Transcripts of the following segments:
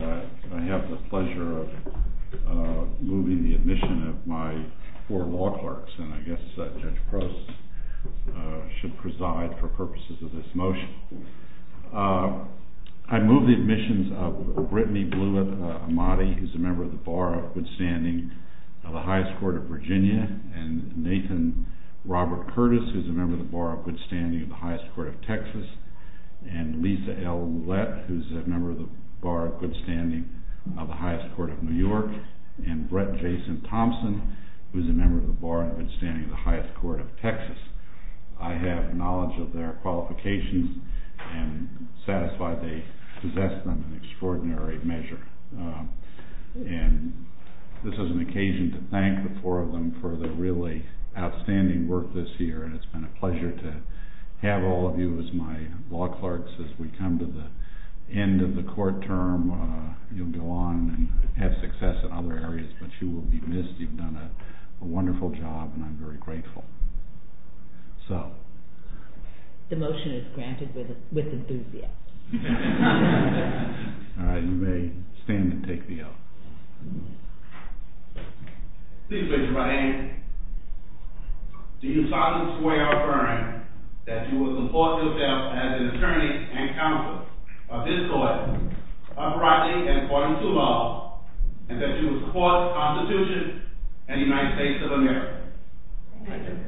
I have the pleasure of moving the admission of my four law clerks, and I guess Judge Prost should preside for purposes of this motion. I move the admissions of Brittany Blewett Amati, who is a member of the Bar of Good Standing of the Highest Court of Virginia, and Nathan Robert Curtis, who is a member of the Bar of Good Standing of the Highest Court of Texas, and Lisa L. Loulette, who is a member of the Bar of Good Standing of the Highest Court of New York, and Brett Jason Thompson, who is a member of the Bar of Good Standing of the Highest Court of Texas. I have knowledge of their qualifications and am satisfied they possess them in extraordinary measure. And this is an occasion to thank the four of them for their really outstanding work this year, and it's been a pleasure to have all of you as my law clerks as we come to the end of the court term. You'll go on and have success in other areas, but you will be missed. You've done a wonderful job, and I'm very grateful. The motion is granted with enthusiasm. All right, you may stand and take the oath. Please raise your right hand. Do you solemnly swear or affirm that you will support yourself as an attorney and counsel of this court, uprightly and according to law, and that you will support the Constitution and the United States of America? I do. I do.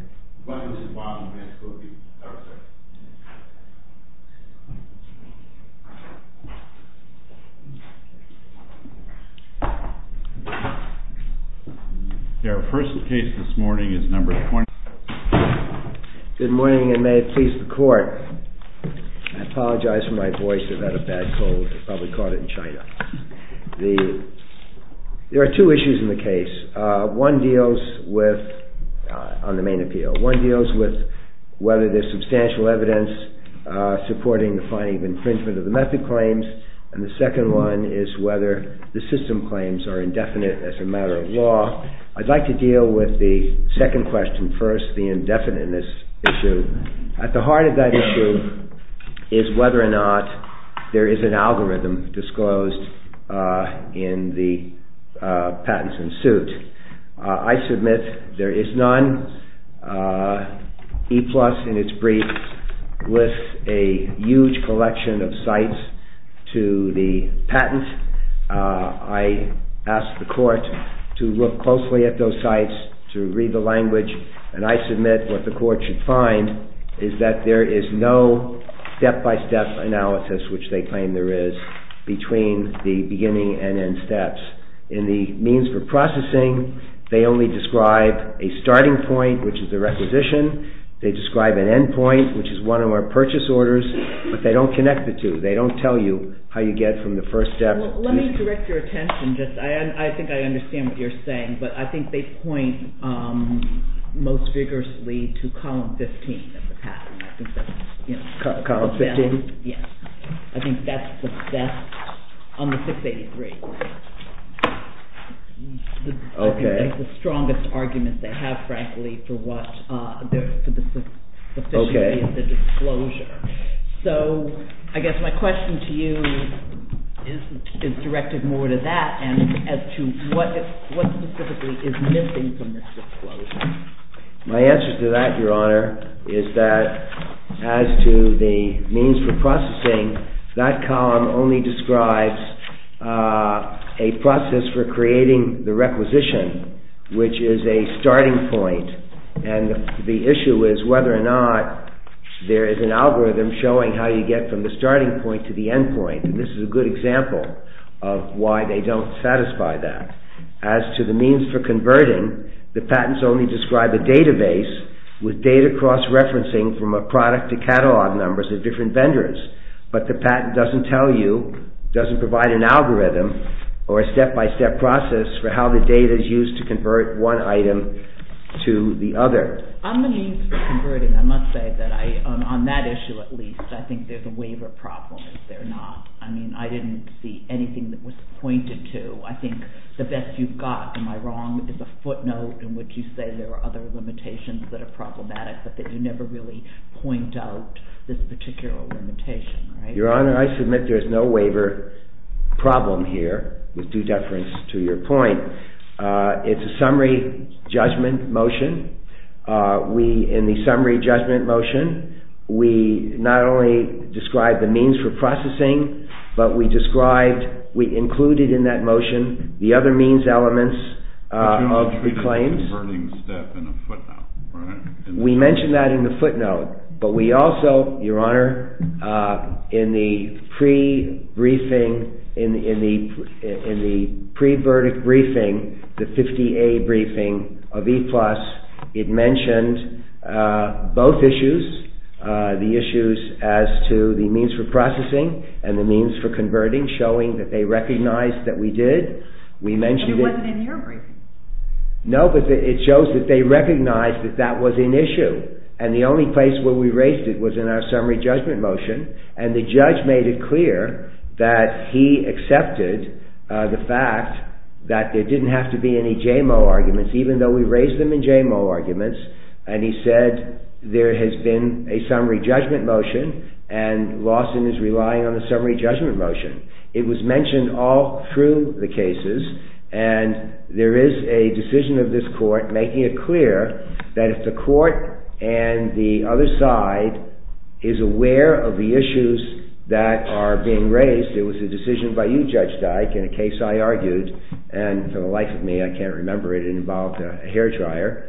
Good morning, and may it please the court. I apologize for my voice. I've had a bad cold. I probably caught it in China. There are two issues in the case. One deals with, on the main appeal, one deals with whether there's substantial evidence supporting the finding of infringement of the method claims, and the second one is whether the system claims are indefinite as a matter of law. I'd like to deal with the second question first, the indefiniteness issue. At the heart of that issue is whether or not there is an algorithm disclosed in the patents in suit. I submit there is none. E-Plus, in its brief, lists a huge collection of sites to the patent. I ask the court to look closely at those sites, to read the language, and I submit what the court should find is that there is no step-by-step analysis, which they claim there is, between the beginning and end steps. In the means for processing, they only describe a starting point, which is the requisition. They describe an end point, which is one of our purchase orders, but they don't connect the two. They don't tell you how you get from the first step to the second. Let me direct your attention. I think I understand what you're saying, but I think they point most vigorously to Column 15 of the patent. Column 15? Yes. I think that's the best on the 683. Okay. It's the strongest argument they have, frankly, for what there is to the sufficiency of the disclosure. So I guess my question to you is directed more to that, and as to what specifically is missing from this disclosure. My answer to that, Your Honor, is that as to the means for processing, that column only describes a process for creating the requisition, which is a starting point, and the issue is whether or not there is an algorithm showing how you get from the starting point to the end point, and this is a good example of why they don't satisfy that. As to the means for converting, the patents only describe a database with data cross-referencing from a product to catalog numbers of different vendors, but the patent doesn't tell you, doesn't provide an algorithm or a step-by-step process for how the data is used to convert one item to the other. On the means for converting, I must say that I, on that issue at least, I think there's a waiver problem, is there not? I mean, I didn't see anything that was pointed to. I think the best you've got, am I wrong, is a footnote in which you say there are other limitations that are problematic, but that you never really point out this particular limitation, right? Your Honor, I submit there's no waiver problem here, with due deference to your point. It's a summary judgment motion. In the summary judgment motion, we not only described the means for processing, but we described, we included in that motion the other means elements of the claims. But you don't treat a converting step in a footnote, right? We mentioned that in the footnote. But we also, Your Honor, in the pre-briefing, in the pre-verdict briefing, the 50A briefing of E-Plus, it mentioned both issues, the issues as to the means for processing and the means for converting, showing that they recognized that we did. But it wasn't in your briefing. No, but it shows that they recognized that that was an issue, and the only place where we raised it was in our summary judgment motion, and the judge made it clear that he accepted the fact that there didn't have to be any JMO arguments, even though we raised them in JMO arguments, and he said there has been a summary judgment motion, and Lawson is relying on the summary judgment motion. It was mentioned all through the cases, and there is a decision of this court making it clear that if the court and the other side is aware of the issues that are being raised, it was a decision by you, Judge Dyke, in a case I argued, and for the life of me I can't remember it. It involved a hair dryer.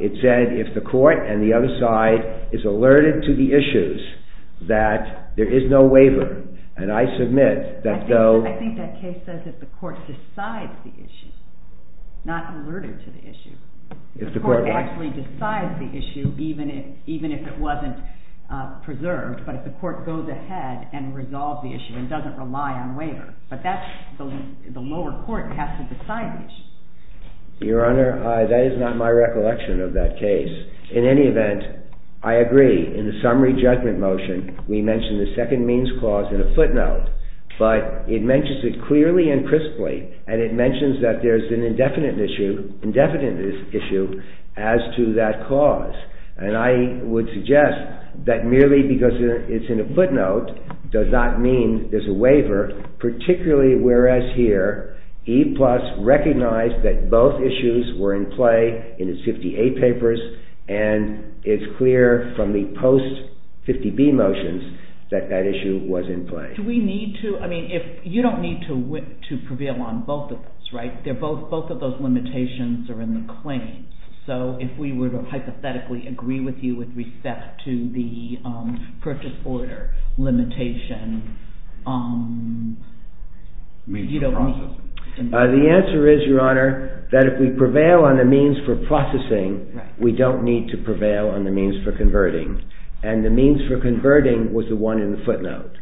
It said if the court and the other side is alerted to the issues that there is no waiver, and I submit that though... I think that case says if the court decides the issue, not alerted to the issue. If the court actually decides the issue, even if it wasn't preserved, but if the court goes ahead and resolves the issue and doesn't rely on waiver. But that's the lower court has to decide the issue. Your Honor, that is not my recollection of that case. In any event, I agree. In the summary judgment motion, we mention the second means clause in a footnote, but it mentions it clearly and crisply, and it mentions that there is an indefinite issue as to that clause, and I would suggest that merely because it's in a footnote does not mean there is a waiver, particularly whereas here E-Plus recognized that both issues were in play in its 58 papers, and it's clear from the post-50B motions that that issue was in play. Do we need to, I mean, you don't need to prevail on both of those, right? Both of those limitations are in the claims, so if we were to hypothetically agree with you with respect to the purchase order limitation, you don't need to... The answer is, Your Honor, that if we prevail on the means for processing, we don't need to prevail on the means for converting, and the means for converting was the one in the footnote.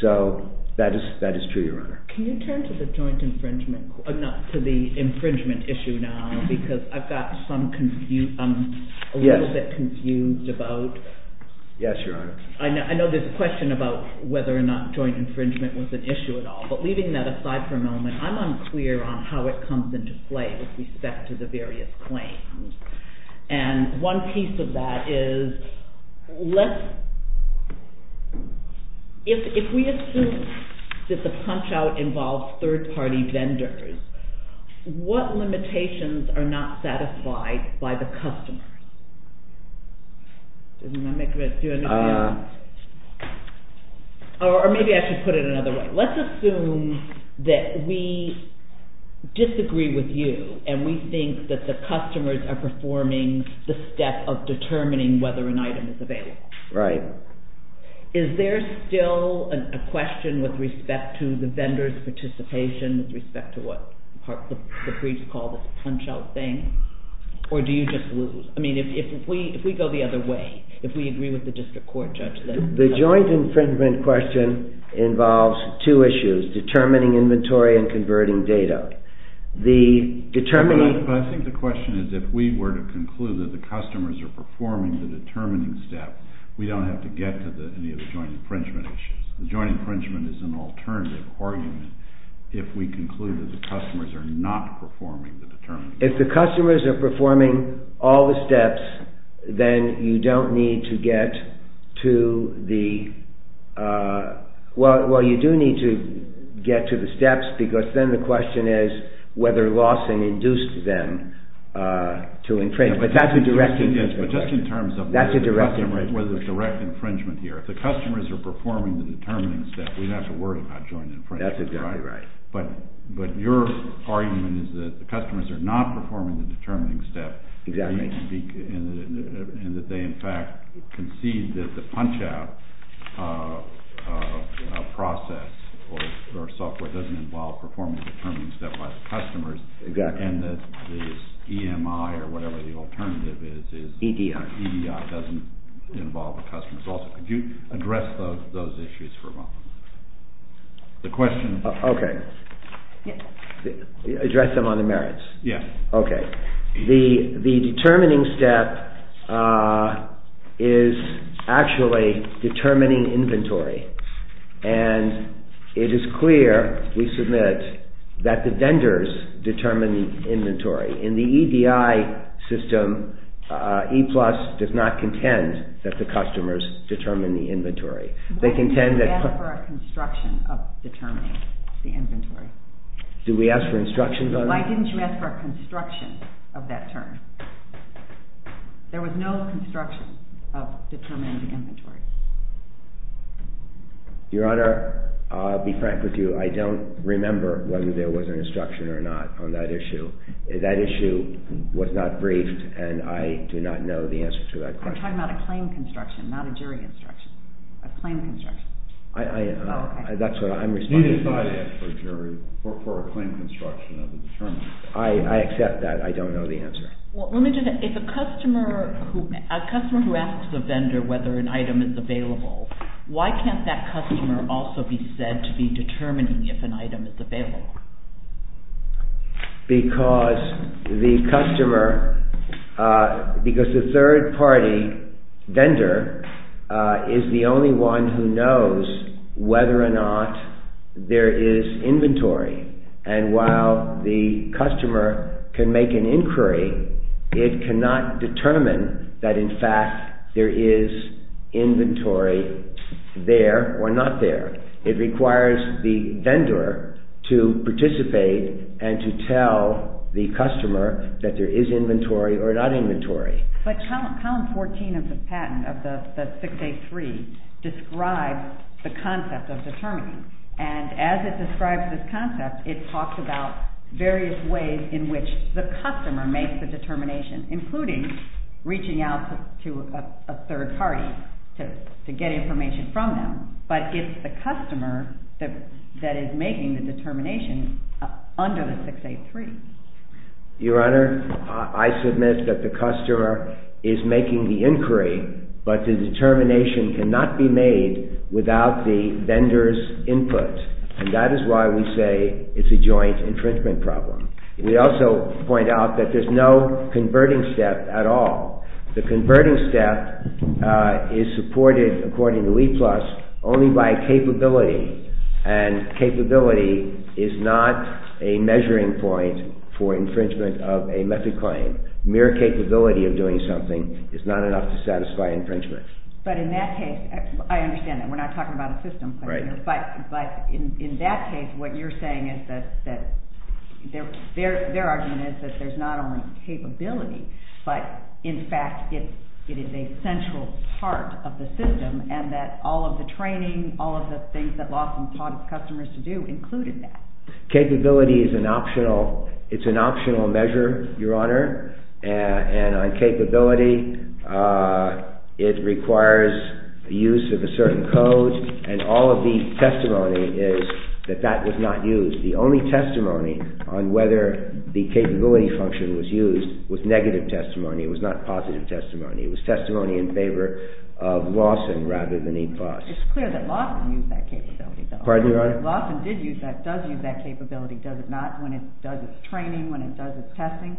So that is true, Your Honor. Can you turn to the joint infringement, not to the infringement issue now, because I've got some confusion, I'm a little bit confused about... Yes, Your Honor. I know there's a question about whether or not joint infringement was an issue at all, but leaving that aside for a moment, I'm unclear on how it comes into play with respect to the various claims, and one piece of that is let's... If we assume that the punch-out involves third-party vendors, what limitations are not satisfied by the customers? Does that make sense? Or maybe I should put it another way. Let's assume that we disagree with you, and we think that the customers are performing the step of determining whether an item is available. Right. Is there still a question with respect to the vendor's participation, with respect to what the briefs call the punch-out thing, or do you just lose? I mean, if we go the other way, if we agree with the district court judgment... The joint infringement question involves two issues, determining inventory and converting data. The determining... I think the question is if we were to conclude that the customers are performing the determining step, we don't have to get to any of the joint infringement issues. The joint infringement is an alternative argument if we conclude that the customers are not performing the determining step. If the customers are performing all the steps, then you don't need to get to the... Well, you do need to get to the steps, because then the question is whether loss had induced them to infringe. But that's a direct infringement. But just in terms of whether there's direct infringement here. If the customers are performing the determining step, we don't have to worry about joint infringement. That's exactly right. But your argument is that the customers are not performing the determining step. Exactly. And that they, in fact, concede that the punch-out process or software doesn't involve performing the determining step by the customers. Exactly. And that this EMI or whatever the alternative is... EDI. EDI doesn't involve the customers. Also, could you address those issues for a moment? The question... Okay. Address them on the merits. Yeah. Okay. The determining step is actually determining inventory. And it is clear, we submit, that the vendors determine the inventory. In the EDI system, E-Plus does not contend that the customers determine the inventory. They contend that... Why didn't you ask for a construction of determining the inventory? Did we ask for instructions on that? Why didn't you ask for a construction of that term? There was no construction of determining the inventory. Your Honor, I'll be frank with you. I don't remember whether there was an instruction or not on that issue. That issue was not briefed, and I do not know the answer to that question. I'm talking about a claim construction, not a jury instruction. A claim construction. That's what I'm responding to. We decided to ask for a jury for a claim construction of a determining... I accept that. I don't know the answer. Well, let me just... If a customer who asks the vendor whether an item is available, why can't that customer also be said to be determining if an item is available? Because the customer... The vendor is the only one who knows whether or not there is inventory. And while the customer can make an inquiry, it cannot determine that, in fact, there is inventory there or not there. It requires the vendor to participate and to tell the customer that there is inventory or not inventory. But Column 14 of the patent, of the 683, describes the concept of determining. And as it describes this concept, it talks about various ways in which the customer makes the determination, including reaching out to a third party to get information from them. But it's the customer that is making the determination under the 683. Your Honor, I submit that the customer is making the inquiry, but the determination cannot be made without the vendor's input. And that is why we say it's a joint infringement problem. We also point out that there's no converting step at all. The converting step is supported, according to Weplus, only by capability. And capability is not a measuring point for infringement of a method claim. Mere capability of doing something is not enough to satisfy infringement. But in that case, I understand that. We're not talking about a system, but in that case, what you're saying is that their argument is that there's not only capability, but in fact it is a central part of the system, and that all of the training, all of the things that Lawson taught his customers to do included that. Capability is an optional measure, Your Honor. And on capability, it requires the use of a certain code, and all of the testimony is that that was not used. The only testimony on whether the capability function was used was negative testimony. It was not positive testimony. It was testimony in favor of Lawson rather than Weplus. It's clear that Lawson used that capability, though. Pardon me, Your Honor? Lawson did use that capability. Does it not when it does its training, when it does its testing?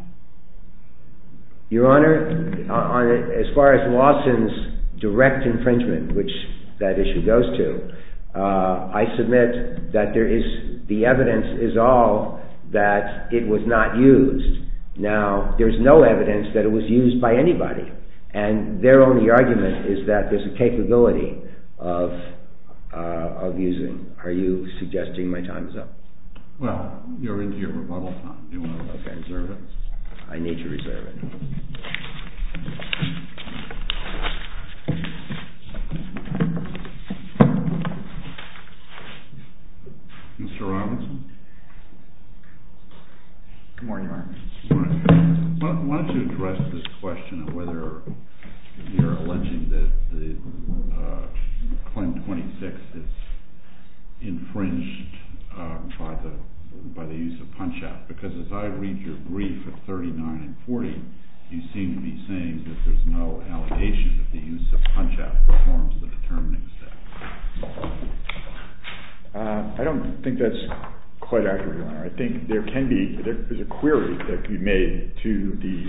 Your Honor, as far as Lawson's direct infringement, which that issue goes to, I submit that the evidence is all that it was not used. Now, there's no evidence that it was used by anybody. And their only argument is that there's a capability of using. Are you suggesting my time is up? Well, you're into your rebuttal time. Do you want to reserve it? I need to reserve it. Mr. Robinson? Good morning, Your Honor. Good morning. Why don't you address this question of whether you're alleging that the Clem 26 is infringed by the use of punch-out? Because as I read your brief of 39 and 40, you seem to be saying that there's no allegation that the use of punch-out performs the determining effect. I don't think that's quite accurate, Your Honor. I think there is a query that can be made to the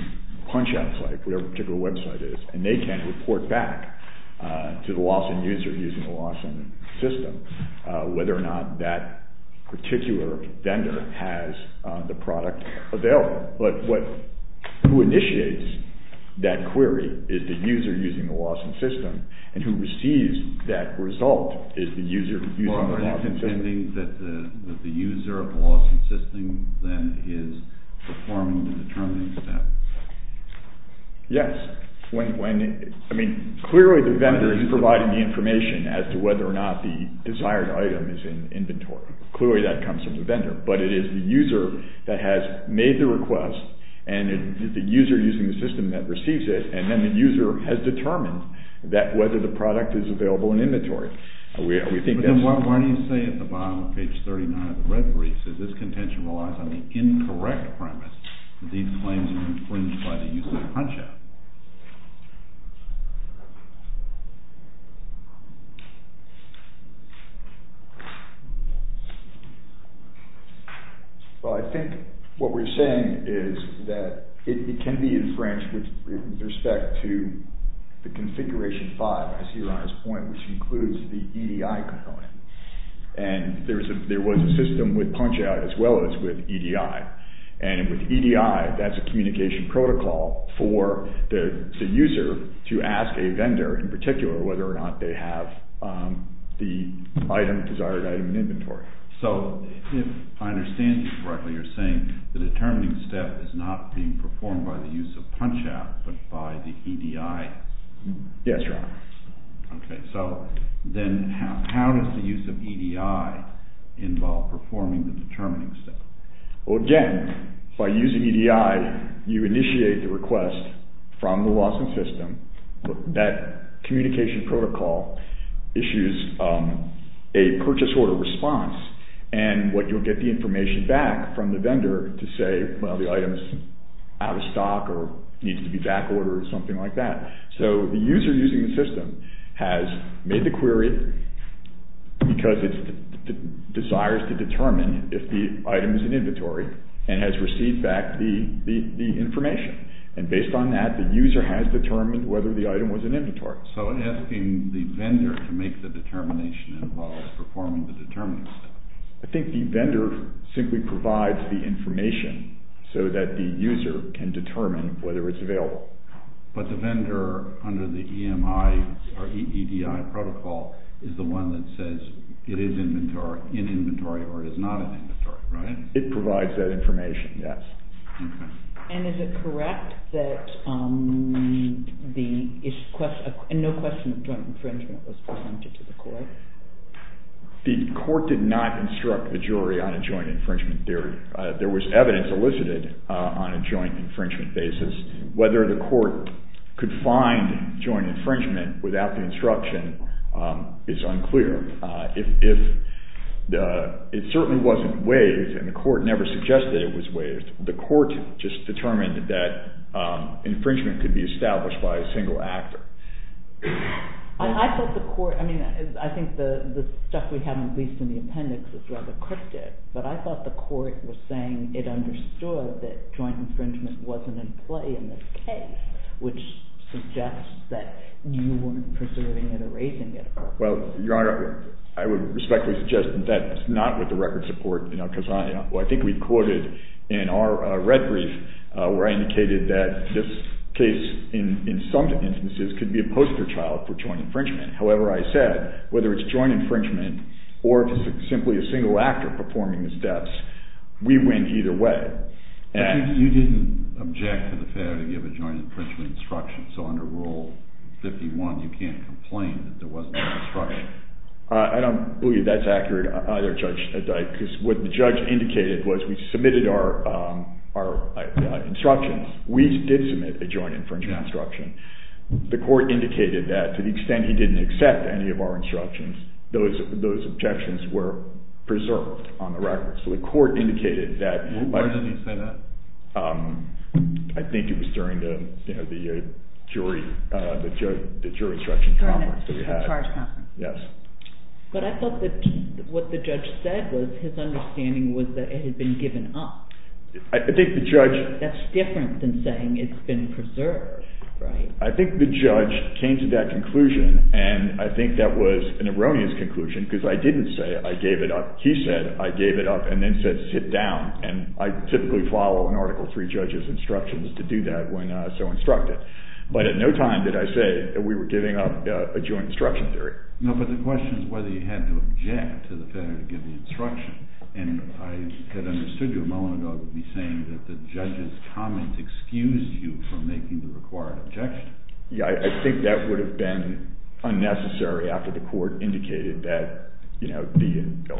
punch-out site, whatever the particular website is, and they can report back to the Lawson user using the Lawson system whether or not that particular vendor has the product available. But who initiates that query is the user using the Lawson system, and who receives that result is the user using the Lawson system. So are you contending that the user of the Lawson system, then, is performing the determining step? Yes. I mean, clearly the vendor is providing the information as to whether or not the desired item is in inventory. Clearly that comes from the vendor. But it is the user that has made the request, and it is the user using the system that receives it, and then the user has determined whether the product is available in inventory. Then why do you say at the bottom of page 39 of the red briefs that this contention relies on the incorrect premise that these claims are infringed by the use of punch-out? Well, I think what we're saying is that it can be infringed with respect to the configuration 5, I see Your Honor's point, which includes the EDI component. And there was a system with punch-out as well as with EDI. And with EDI, that's a communication protocol for the user to ask a vendor in particular whether or not they have the item, desired item, in inventory. So if I understand you correctly, you're saying the determining step is not being performed by the use of punch-out, but by the EDI. Yes, Your Honor. Okay, so then how does the use of EDI involve performing the determining step? Well, again, by using EDI, you initiate the request from the Lawson system. That communication protocol issues a purchase order response, and what you'll get the information back from the vendor to say, well, the item is out of stock or needs to be back-ordered or something like that. So the user using the system has made the query because it desires to determine if the item is in inventory and has received back the information. And based on that, the user has determined whether the item was in inventory. So asking the vendor to make the determination involves performing the determining step. I think the vendor simply provides the information so that the user can determine whether it's available. But the vendor under the EMI or EDI protocol is the one that says it is in inventory or it is not in inventory, right? It provides that information, yes. And is it correct that no question of joint infringement was presented to the court? The court did not instruct the jury on a joint infringement theory. There was evidence elicited on a joint infringement basis. Whether the court could find joint infringement without the instruction is unclear. It certainly wasn't waived, and the court never suggested it was waived. The court just determined that infringement could be established by a single actor. I think the stuff we have at least in the appendix is rather cryptic, but I thought the court was saying it understood that joint infringement wasn't in play in this case, which suggests that you weren't preserving it or raising it. Well, Your Honor, I would respectfully suggest that that's not with the record support. I think we quoted in our red brief where I indicated that this case in some instances could be a poster child for joint infringement. However, I said whether it's joint infringement or if it's simply a single actor performing the steps, we win either way. But you didn't object to the fact that you have a joint infringement instruction, so under Rule 51 you can't complain that there wasn't an instruction. I don't believe that's accurate either, Judge, because what the judge indicated was we submitted our instructions. We did submit a joint infringement instruction. The court indicated that to the extent he didn't accept any of our instructions, those objections were preserved on the record. So the court indicated that— When did he say that? I think it was during the jury instruction conference that we had. But I thought that what the judge said was his understanding was that it had been given up. I think the judge— That's different than saying it's been preserved, right? I think the judge came to that conclusion, and I think that was an erroneous conclusion because I didn't say I gave it up. He said I gave it up and then said sit down, and I typically follow an Article III judge's instructions to do that when so instructed. But at no time did I say that we were giving up a joint instruction theory. No, but the question is whether you had to object to the fact that you gave the instruction, and I had understood you a moment ago would be saying that the judge's comment excused you from making the required objection. Yeah, I think that would have been unnecessary after the court indicated that, you know,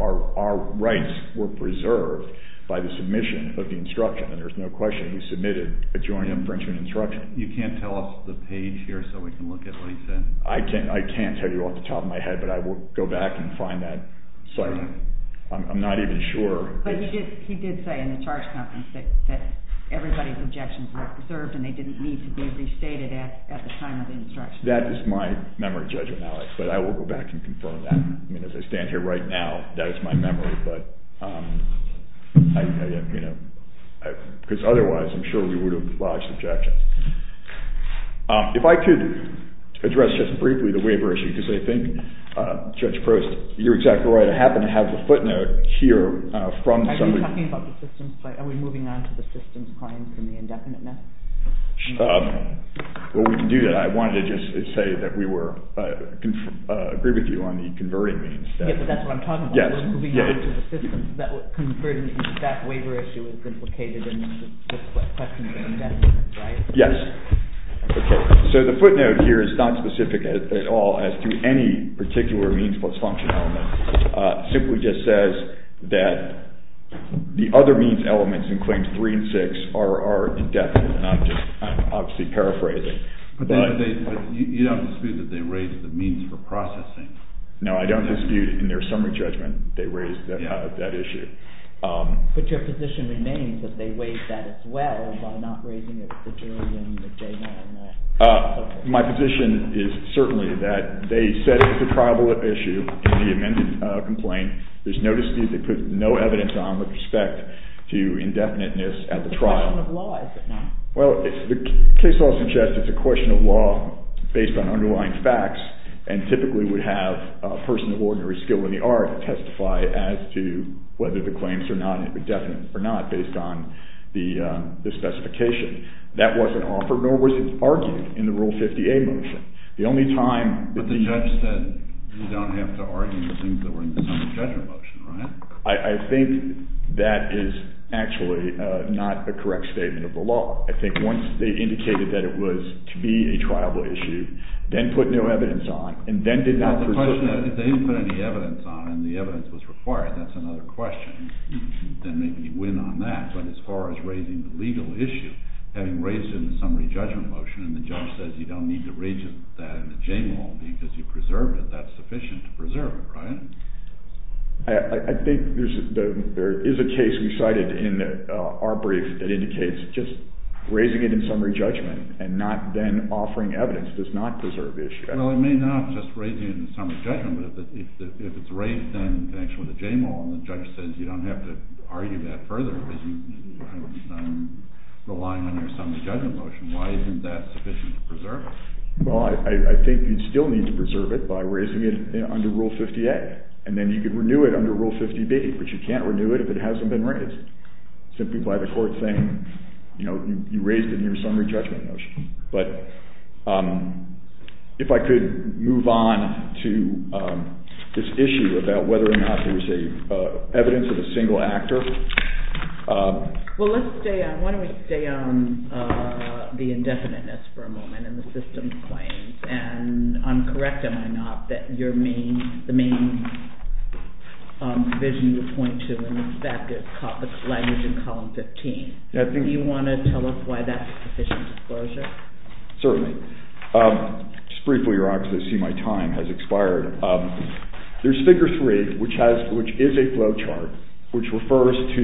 our rights were preserved by the submission of the instruction, and there's no question he submitted a joint infringement instruction. You can't tell us the page here so we can look at what he said? I can't tell you off the top of my head, but I will go back and find that site. I'm not even sure. But he did say in the charge conference that everybody's objections were preserved and they didn't need to be restated at the time of the instruction. That is my memory judgment, Alex, but I will go back and confirm that. I mean, as I stand here right now, that is my memory, but, you know, because otherwise I'm sure we would have lodged objections. If I could address just briefly the waiver issue, because I think, Judge Proust, you're exactly right. I happen to have the footnote here from somebody. Are we talking about the systems claim? Are we moving on to the systems claim from the indefinite now? Well, we can do that. I wanted to just say that we were agree with you on the converting means. Yeah, but that's what I'm talking about. That waiver issue is implicated in the question of indefinite, right? Yes. Okay. So the footnote here is not specific at all as to any particular means plus function element. It simply just says that the other means elements in Claims 3 and 6 are indefinite, and I'm just obviously paraphrasing. But you don't dispute that they raised the means for processing? No, I don't dispute in their summary judgment they raised that issue. But your position remains that they raised that as well, by not raising it with the jury and the JMA and that. My position is certainly that they said it's a triable issue in the amended complaint. There's no dispute. They put no evidence on with respect to indefiniteness at the trial. It's a question of law, is it not? Well, the case law suggests it's a question of law based on underlying facts and typically would have a person of ordinary skill in the art testify as to whether the claims are not indefinite or not based on the specification. That wasn't offered nor was it argued in the Rule 50A motion. The only time that the judge said you don't have to argue the things that were in the summary judgment motion, right? I think that is actually not a correct statement of the law. I think once they indicated that it was to be a triable issue, then put no evidence on and then did not pursue it. If they didn't put any evidence on and the evidence was required, that's another question. Then maybe you win on that. But as far as raising the legal issue, having raised it in the summary judgment motion and the judge says you don't need to raise that in the JMA because you preserved it, that's sufficient to preserve it, right? I think there is a case we cited in our brief that indicates just raising it in summary judgment and not then offering evidence does not preserve the issue. Well, it may not just raise it in the summary judgment, but if it's raised in connection with the JMA and the judge says you don't have to argue that further because you're relying on your summary judgment motion, why isn't that sufficient to preserve it? Well, I think you'd still need to preserve it by raising it under Rule 50A and then you could renew it under Rule 50B, but you can't renew it if it hasn't been raised. Simply by the court saying you raised it in your summary judgment motion. But if I could move on to this issue about whether or not there is evidence of a single actor. Well, let's stay on, why don't we stay on the indefiniteness for a moment and the system's claims. And I'm correct, am I not, that your main, provision you point to is the fact that language in column 15. Do you want to tell us why that's a sufficient disclosure? Certainly. Just briefly, you're obviously seeing my time has expired. There's figure three, which is a flow chart, which refers to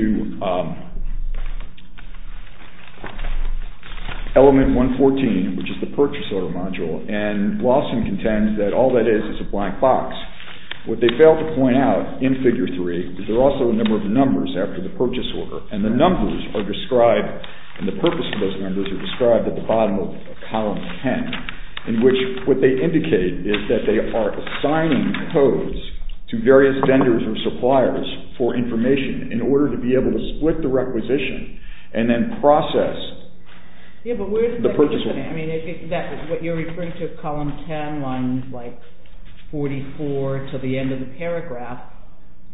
element 114, which is the purchase order module, and Lawson contends that all that is is a blank box. What they fail to point out in figure three is there are also a number of numbers after the purchase order, and the numbers are described, and the purpose of those numbers are described at the bottom of column 10, in which what they indicate is that they are assigning codes to various vendors or suppliers for information in order to be able to split the requisition and then process the purchase order. What you're referring to, column 10, lines 44 to the end of the paragraph,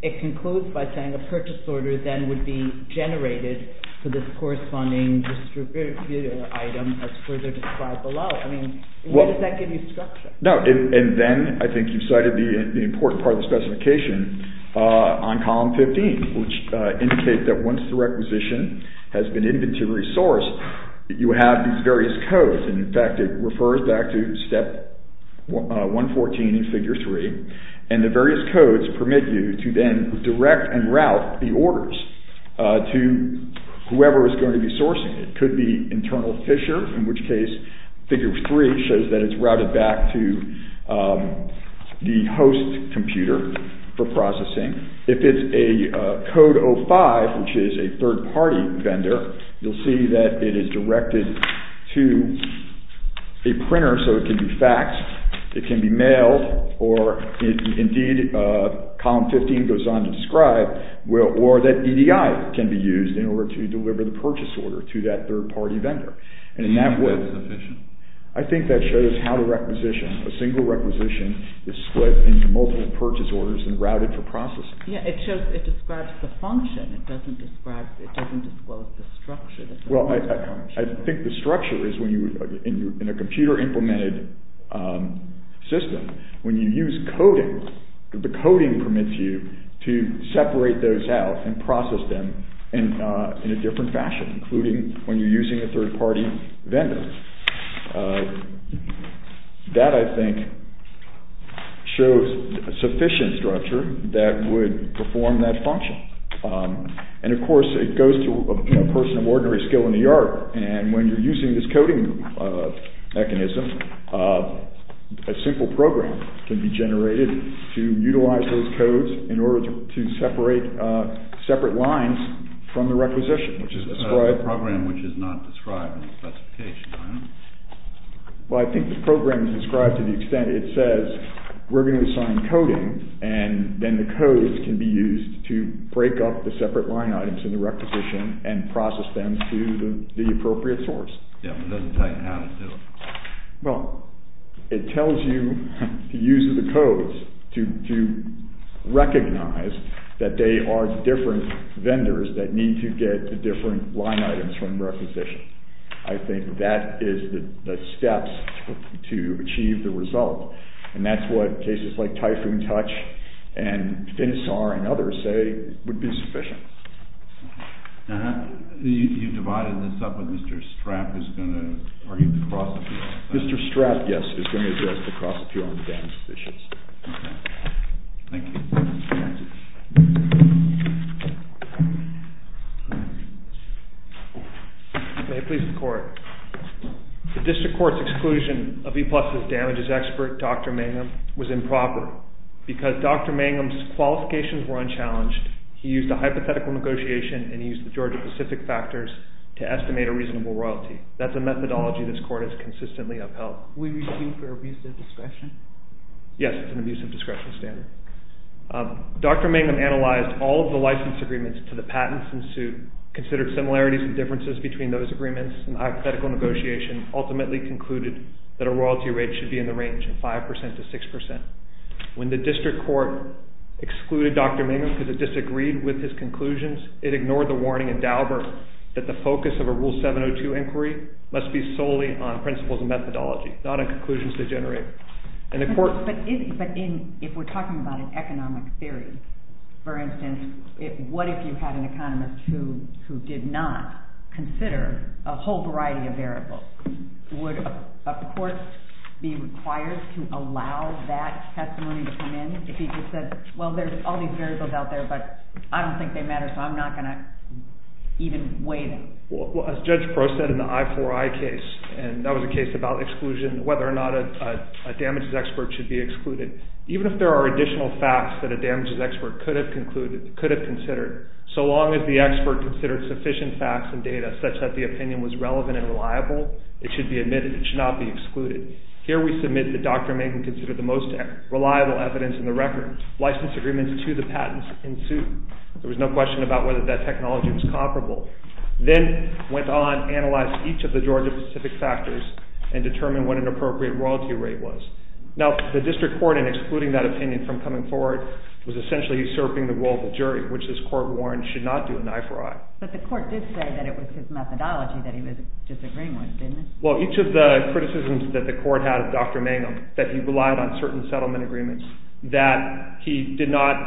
it concludes by saying a purchase order then would be generated for this corresponding item as further described below. Where does that give you structure? And then, I think you cited the important part of the specification on column 15, which indicates that once the requisition has been inventory sourced, you have these various codes, and in fact it refers back to step 114 in figure three, and the various codes permit you to then direct and route the orders to whoever is going to be sourcing it. It could be internal fissure, in which case figure three shows that it's routed back to the host computer for processing. If it's a code 05, which is a third-party vendor, you'll see that it is directed to a printer so it can be faxed, it can be mailed, or indeed column 15 goes on to describe, or that EDI can be used in order to deliver the purchase order to that third-party vendor. And in that way, I think that shows how the requisition, a single requisition, is split into multiple purchase orders and routed for processing. Yeah, it describes the function. It doesn't describe, it doesn't disclose the structure. Well, I think the structure is when you, in a computer-implemented system, when you use coding, the coding permits you to separate those out and process them in a different fashion, including when you're using a third-party vendor. That, I think, shows sufficient structure that would perform that function. And, of course, it goes to a person of ordinary skill in the art, and when you're using this coding mechanism, a simple program can be generated to utilize those codes in order to separate separate lines from the requisition, which is a program which is not described in the specification. Well, I think the program is described to the extent it says, we're going to assign coding, and then the codes can be used to break up the separate line items in the requisition and process them to the appropriate source. Yeah, but it doesn't tell you how to do it. Well, it tells you to use the codes to recognize that they are different vendors that need to get the different line items from the requisition. I think that is the steps to achieve the result, and that's what cases like Typhoon Touch and Finisar and others say would be sufficient. You've divided this up, but Mr. Strapp is going to argue the cross-appeal. Mr. Strapp, yes, is going to address the cross-appeal and the damages issues. Thank you. May it please the Court. The District Court's exclusion of E-Plus' damages expert, Dr. Mangum, was improper because Dr. Mangum's qualifications were unchallenged. He used a hypothetical negotiation, and he used the Georgia-Pacific factors to estimate a reasonable royalty. That's a methodology this Court has consistently upheld. We receive for abusive discretion? Yes, it's an abusive discretion standard. Dr. Mangum analyzed all of the license agreements to the patents in suit, considered similarities and differences between those agreements, and the hypothetical negotiation ultimately concluded that a royalty rate should be in the range of 5% to 6%. When the District Court excluded Dr. Mangum because it disagreed with his conclusions, it ignored the warning in Daubert that the focus of a Rule 702 inquiry must be solely on principles and methodology, not on conclusions to generate. But if we're talking about an economic theory, for instance, what if you had an economist who did not consider a whole variety of variables? Would a court be required to allow that testimony to come in if he just said, well, there's all these variables out there, but I don't think they matter, so I'm not going to even weigh them? Well, as Judge Prost said in the I4I case, and that was a case about exclusion, whether or not a damages expert should be excluded, even if there are additional facts that a damages expert could have considered, so long as the expert considered sufficient facts and data such that the opinion was relevant and reliable, it should be admitted. It should not be excluded. Here we submit that Dr. Mangum considered the most reliable evidence in the record. License agreements to the patents in suit. There was no question about whether that technology was comparable. Then went on, analyzed each of the Georgia-specific factors and determined what an appropriate royalty rate was. Now, the district court, in excluding that opinion from coming forward, was essentially usurping the role of the jury, which this court warned should not do in the I4I. But the court did say that it was his methodology that he was disagreeing with, didn't it? Well, each of the criticisms that the court had of Dr. Mangum, that he relied on certain settlement agreements, that he did not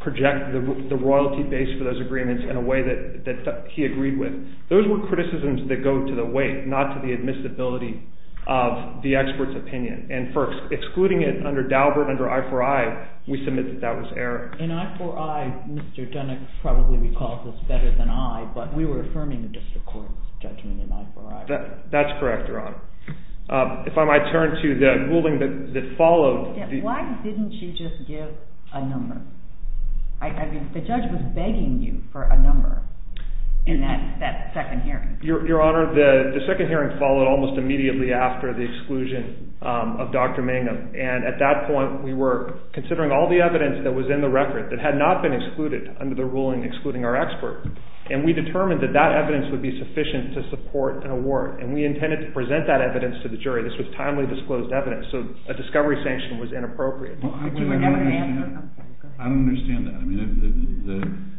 project the royalty base for those agreements in a way that he agreed with. Those were criticisms that go to the weight, not to the admissibility of the expert's opinion. And first, excluding it under Daubert, under I4I, we submit that that was error. In I4I, Mr. Dunick probably recalls this better than I, but we were affirming the district court's judgment in I4I. That's correct, Your Honor. If I might turn to the ruling that followed. Why didn't you just give a number? The judge was begging you for a number in that second hearing. Your Honor, the second hearing followed almost immediately after the exclusion of Dr. Mangum. And at that point, we were considering all the evidence that was in the record that had not been excluded under the ruling excluding our expert. And we determined that that evidence would be sufficient to support an award. And we intended to present that evidence to the jury. This was timely disclosed evidence, so a discovery sanction was inappropriate. I don't understand that.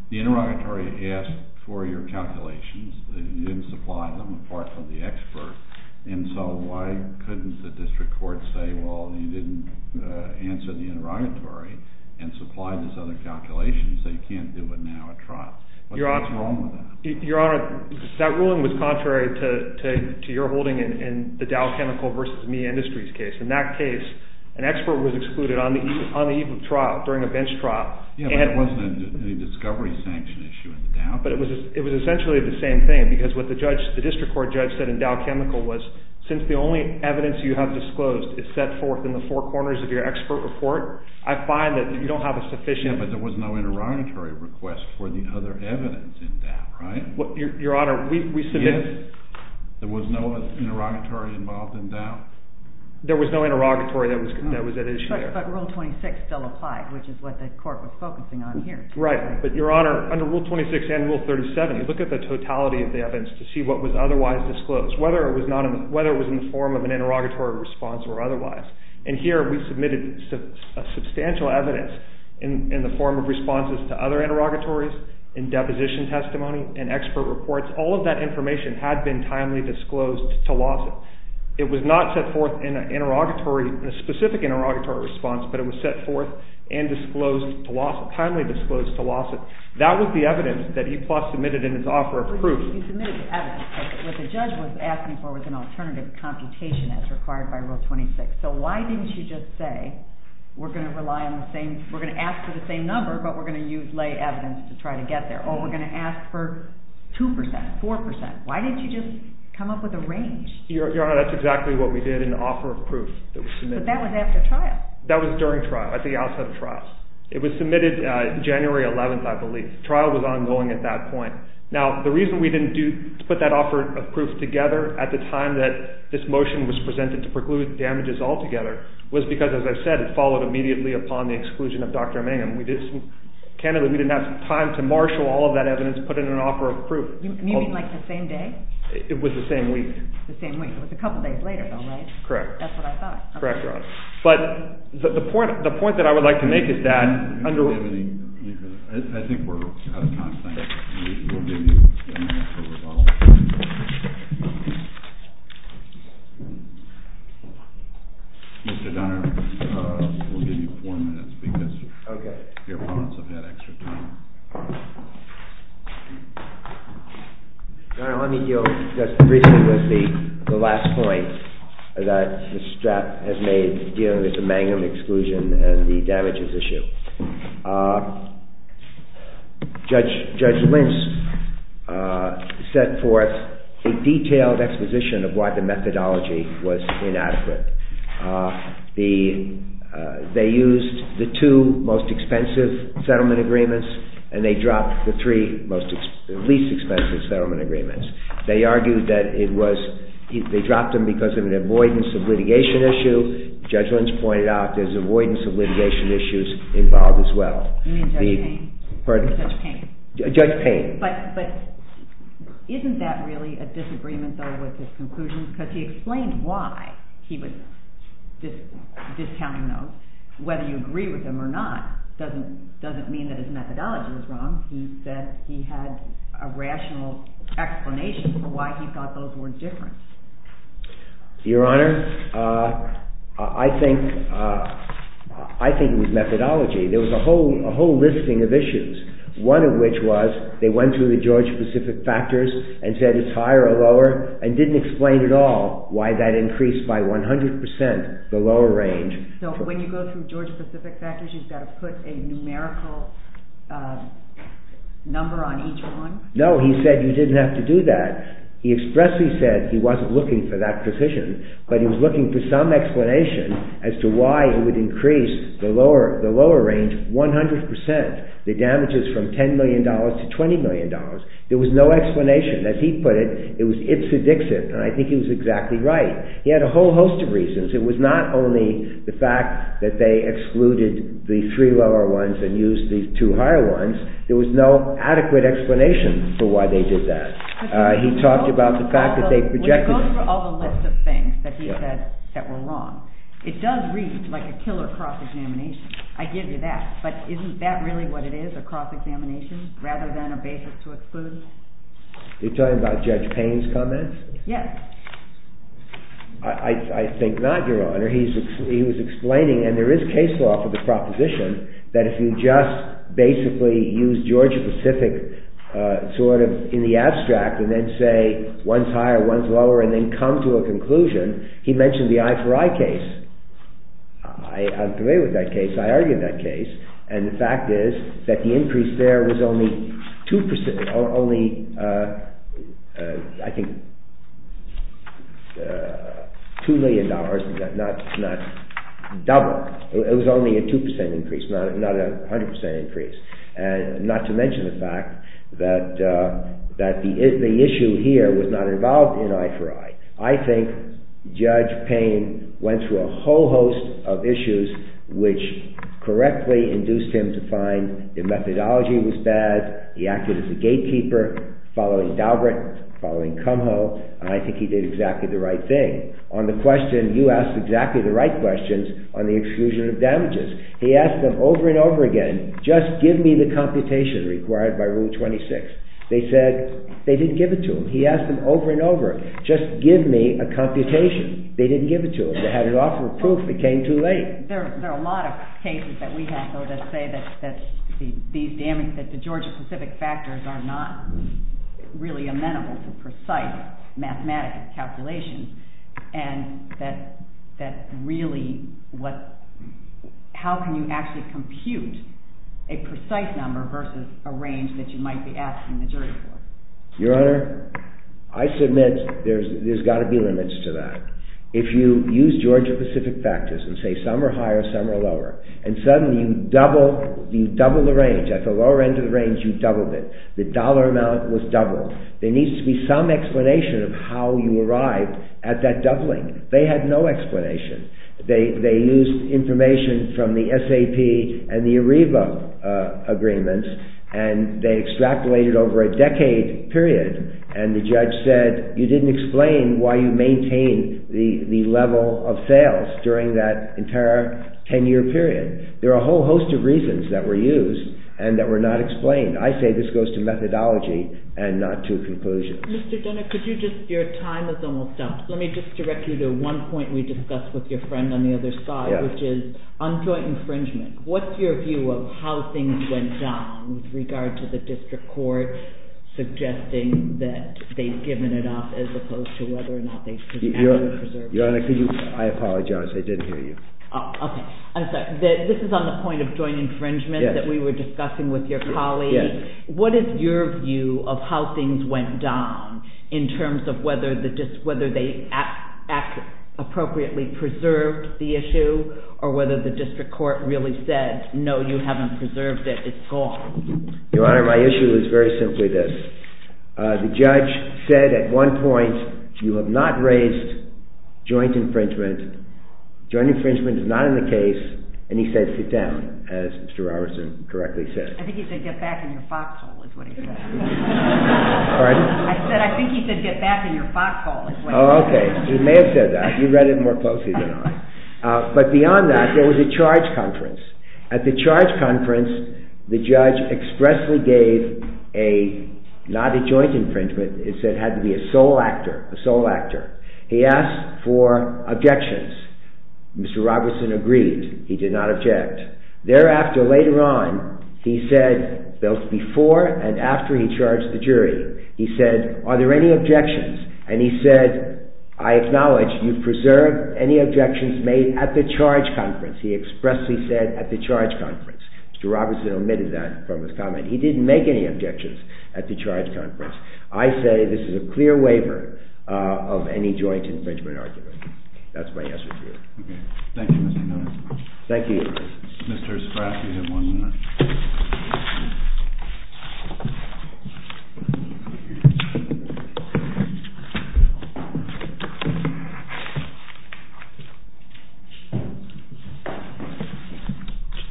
The interrogatory asked for your calculations. You didn't supply them, apart from the expert. And so why couldn't the district court say, well, you didn't answer the interrogatory and supply these other calculations. They can't do it now at trial. What's wrong with that? Your Honor, that ruling was contrary to your holding in the Dow Chemical v. Me Industries case. In that case, an expert was excluded on the eve of trial, during a bench trial. Yeah, but it wasn't a discovery sanction issue in the Dow. But it was essentially the same thing, because what the district court judge said in Dow Chemical was, since the only evidence you have disclosed is set forth in the four corners of your expert report, I find that you don't have a sufficient— Yeah, but there was no interrogatory request for the other evidence in Dow, right? Your Honor, we submitted— Yes, there was no interrogatory involved in Dow. There was no interrogatory that was at issue there. But Rule 26 still applied, which is what the court was focusing on here. Right. But, Your Honor, under Rule 26 and Rule 37, you look at the totality of the evidence to see what was otherwise disclosed, whether it was in the form of an interrogatory response or otherwise. And here, we submitted substantial evidence in the form of responses to other interrogatories, in deposition testimony, in expert reports. All of that information had been timely disclosed to lawsuit. It was not set forth in an interrogatory—in a specific interrogatory response, but it was set forth and disclosed to lawsuit—timely disclosed to lawsuit. That was the evidence that he submitted in his offer of proof. You submitted evidence, but what the judge was asking for was an alternative computation, as required by Rule 26. So why didn't you just say, we're going to rely on the same—we're going to ask for the same number, but we're going to use lay evidence to try to get there, or we're going to ask for 2 percent, 4 percent. Why didn't you just come up with a range? Your Honor, that's exactly what we did in the offer of proof that was submitted. But that was after trial. That was during trial, at the outset of trial. It was submitted January 11th, I believe. Trial was ongoing at that point. Now, the reason we didn't put that offer of proof together at the time that this motion was presented to preclude damages altogether was because, as I said, it followed immediately upon the exclusion of Dr. Mangum. Candidly, we didn't have time to marshal all of that evidence and put it in an offer of proof. You mean like the same day? It was the same week. It was the same week. It was a couple days later, though, right? Correct. That's what I thought. Correct, Your Honor. But the point that I would like to make is that— I think we're out of time. Thank you. We'll give you a minute for rebuttal. Mr. Dunner, we'll give you four minutes because your opponents have had extra time. Your Honor, let me deal just briefly with the last point that Ms. Strapp has made dealing with the Mangum exclusion and the damages issue. Judge Lentz set forth a detailed exposition of why the methodology was inadequate. They used the two most expensive settlement agreements and they dropped the three least expensive settlement agreements. They argued that it was—they dropped them because of an avoidance of litigation issue. Judge Lentz pointed out there's avoidance of litigation issues involved as well. You mean Judge Payne? Pardon? Judge Payne. Judge Payne. But isn't that really a disagreement, though, with his conclusion? Because he explained why he was discounting those. Whether you agree with him or not doesn't mean that his methodology was wrong. He said he had a rational explanation for why he thought those were different. Your Honor, I think it was methodology. There was a whole listing of issues, one of which was they went through the Georgia-Pacific factors and said it's higher or lower, and didn't explain at all why that increased by 100% the lower range. So when you go through Georgia-Pacific factors, you've got to put a numerical number on each one? No, he said you didn't have to do that. He expressly said he wasn't looking for that provision, but he was looking for some explanation as to why it would increase the lower range 100%, the damages from $10 million to $20 million. There was no explanation. As he put it, it's a dixit, and I think he was exactly right. He had a whole host of reasons. It was not only the fact that they excluded the three lower ones and used the two higher ones. There was no adequate explanation for why they did that. He talked about the fact that they projected… When you go through all the lists of things that he said that were wrong, it does read like a killer cross-examination. I give you that. But isn't that really what it is, a cross-examination, rather than a basis to exclude? Are you talking about Judge Payne's comments? Yes. I think not, Your Honor. He was explaining, and there is case law for the proposition, that if you just basically use Georgia-Pacific sort of in the abstract and then say one's higher, one's lower, and then come to a conclusion, he mentioned the eye-for-eye case. I agree with that case. I argued that case. And the fact is that the increase there was only two percent, only, I think, two million dollars, not double. It was only a two percent increase, not a hundred percent increase. Not to mention the fact that the issue here was not involved in eye-for-eye. I think Judge Payne went through a whole host of issues which correctly induced him to find the methodology was bad, he acted as a gatekeeper, following Daubert, following Kumho, and I think he did exactly the right thing. On the question, you asked exactly the right questions on the exclusion of damages. He asked them over and over again, just give me the computation required by Rule 26. They said they didn't give it to him. He asked them over and over, just give me a computation. They didn't give it to him. They had an offer of proof, it came too late. There are a lot of cases that we have, though, that say that the Georgia-specific factors are not really amenable to precise mathematical calculations, and that really, how can you actually compute a precise number versus a range that you might be asking the jury for? Your Honor, I submit there's got to be limits to that. If you use Georgia-specific factors and say some are higher, some are lower, and suddenly you double the range, at the lower end of the range you doubled it, the dollar amount was doubled, there needs to be some explanation of how you arrived at that doubling. They had no explanation. They used information from the SAP and the ARIVA agreements, and they extrapolated over a decade period, and the judge said you didn't explain why you maintained the level of sales during that entire ten-year period. There are a whole host of reasons that were used and that were not explained. I say this goes to methodology and not to conclusion. Mr. Jenner, your time is almost up. Let me just direct you to one point we discussed with your friend on the other side, which is on joint infringement. What's your view of how things went down with regard to the district court suggesting that they've given it up as opposed to whether or not they actually preserved it? Your Honor, I apologize. I didn't hear you. Okay. I'm sorry. This is on the point of joint infringement that we were discussing with your colleague. Yes. What is your view of how things went down in terms of whether they appropriately preserved the issue or whether the district court really said no, you haven't preserved it, it's gone? Your Honor, my issue is very simply this. The judge said at one point you have not raised joint infringement. Joint infringement is not in the case, and he said sit down, as Mr. Robertson correctly said. I think he said get back in your foxhole is what he said. Pardon? I said I think he said get back in your foxhole is what he said. Oh, okay. He may have said that. You read it more closely than I. But beyond that, there was a charge conference. At the charge conference, the judge expressly gave a, not a joint infringement, it said it had to be a sole actor, a sole actor. He asked for objections. Mr. Robertson agreed. He did not object. Thereafter, later on, he said, both before and after he charged the jury, he said are there any objections? And he said, I acknowledge you preserved any objections made at the charge conference. He expressly said at the charge conference. Mr. Robertson omitted that from his comment. He didn't make any objections at the charge conference. I say this is a clear waiver of any joint infringement argument. That's my answer to you. Okay. Thank you, Mr. Miller. Thank you, Your Honor. Mr. Spratt, you have one minute.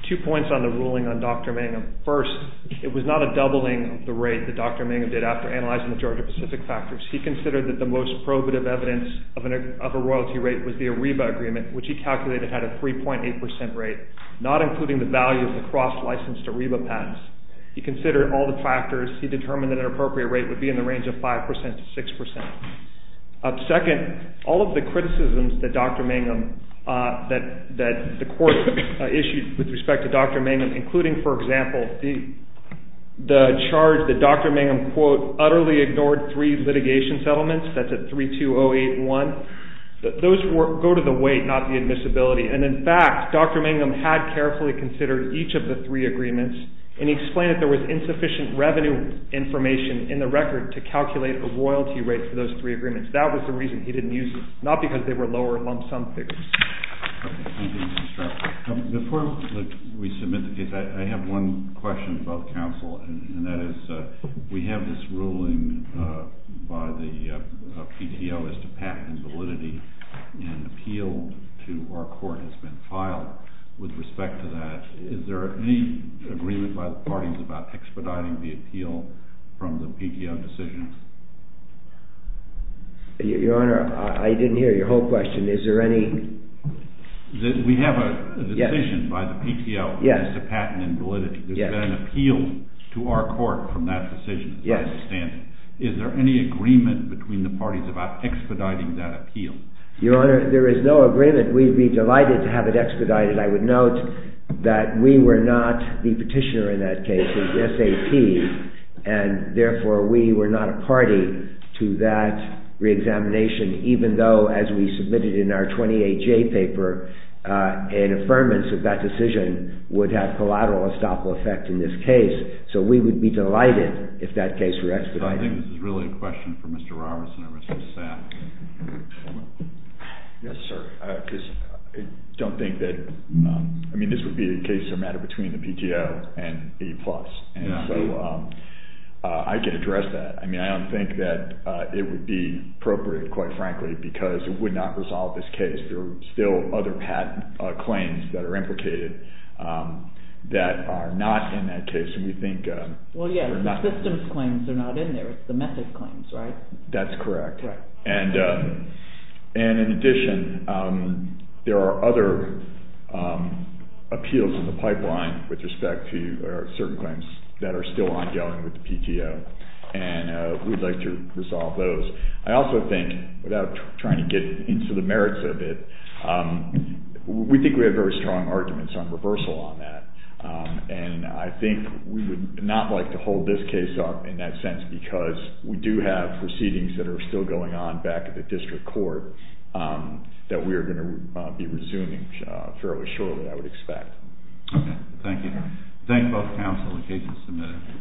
Two points on the ruling on Dr. Mangum. First, it was not a doubling of the rate that Dr. Mangum did after analyzing the Georgia-Pacific factors. He considered that the most probative evidence of a royalty rate was the Ariba agreement, which he calculated had a 3.8 percent rate, not including the value of the cross-licensed Ariba patents. He considered all the factors. He determined that an appropriate rate would be in the range of 5 percent to 6 percent. Second, all of the criticisms that Dr. Mangum, that the court issued with respect to Dr. Mangum, including, for example, the charge that Dr. Mangum, quote, utterly ignored three litigation settlements. That's a 32081. Those go to the weight, not the admissibility. And, in fact, Dr. Mangum had carefully considered each of the three agreements and he explained that there was insufficient revenue information in the record to calculate a royalty rate for those three agreements. That was the reason he didn't use them, not because they were lower lump sum figures. Thank you, Mr. Spratt. Before we submit the case, I have one question about counsel, and that is we have this ruling by the PDO as to patent validity. An appeal to our court has been filed with respect to that. Is there any agreement by the parties about expediting the appeal from the PDO decision? Your Honor, I didn't hear your whole question. Is there any— We have a decision by the PDO as to patent and validity. There's been an appeal to our court from that decision, as I understand it. Is there any agreement between the parties about expediting that appeal? Your Honor, there is no agreement. We'd be delighted to have it expedited. I would note that we were not the petitioner in that case. It was the SAP, and therefore we were not a party to that reexamination, even though, as we submitted in our 20HA paper, an affirmance of that decision would have collateral estoppel effect in this case. So we would be delighted if that case were expedited. I think this is really a question for Mr. Robertson or Mr. Sam. Yes, sir. I don't think that—I mean, this would be a case of a matter between the PDO and A+. And so I can address that. I mean, I don't think that it would be appropriate, quite frankly, because it would not resolve this case. There are still other patent claims that are implicated that are not in that case, and we think— Well, yes, the systems claims are not in there. It's the method claims, right? That's correct. And in addition, there are other appeals in the pipeline with respect to certain claims that are still ongoing with the PTO, and we'd like to resolve those. I also think, without trying to get into the merits of it, we think we have very strong arguments on reversal on that, and I think we would not like to hold this case up in that sense because we do have proceedings that are still going on back at the district court that we are going to be resuming fairly shortly, I would expect. Okay. Thank you. Thank both counsel and the case is submitted.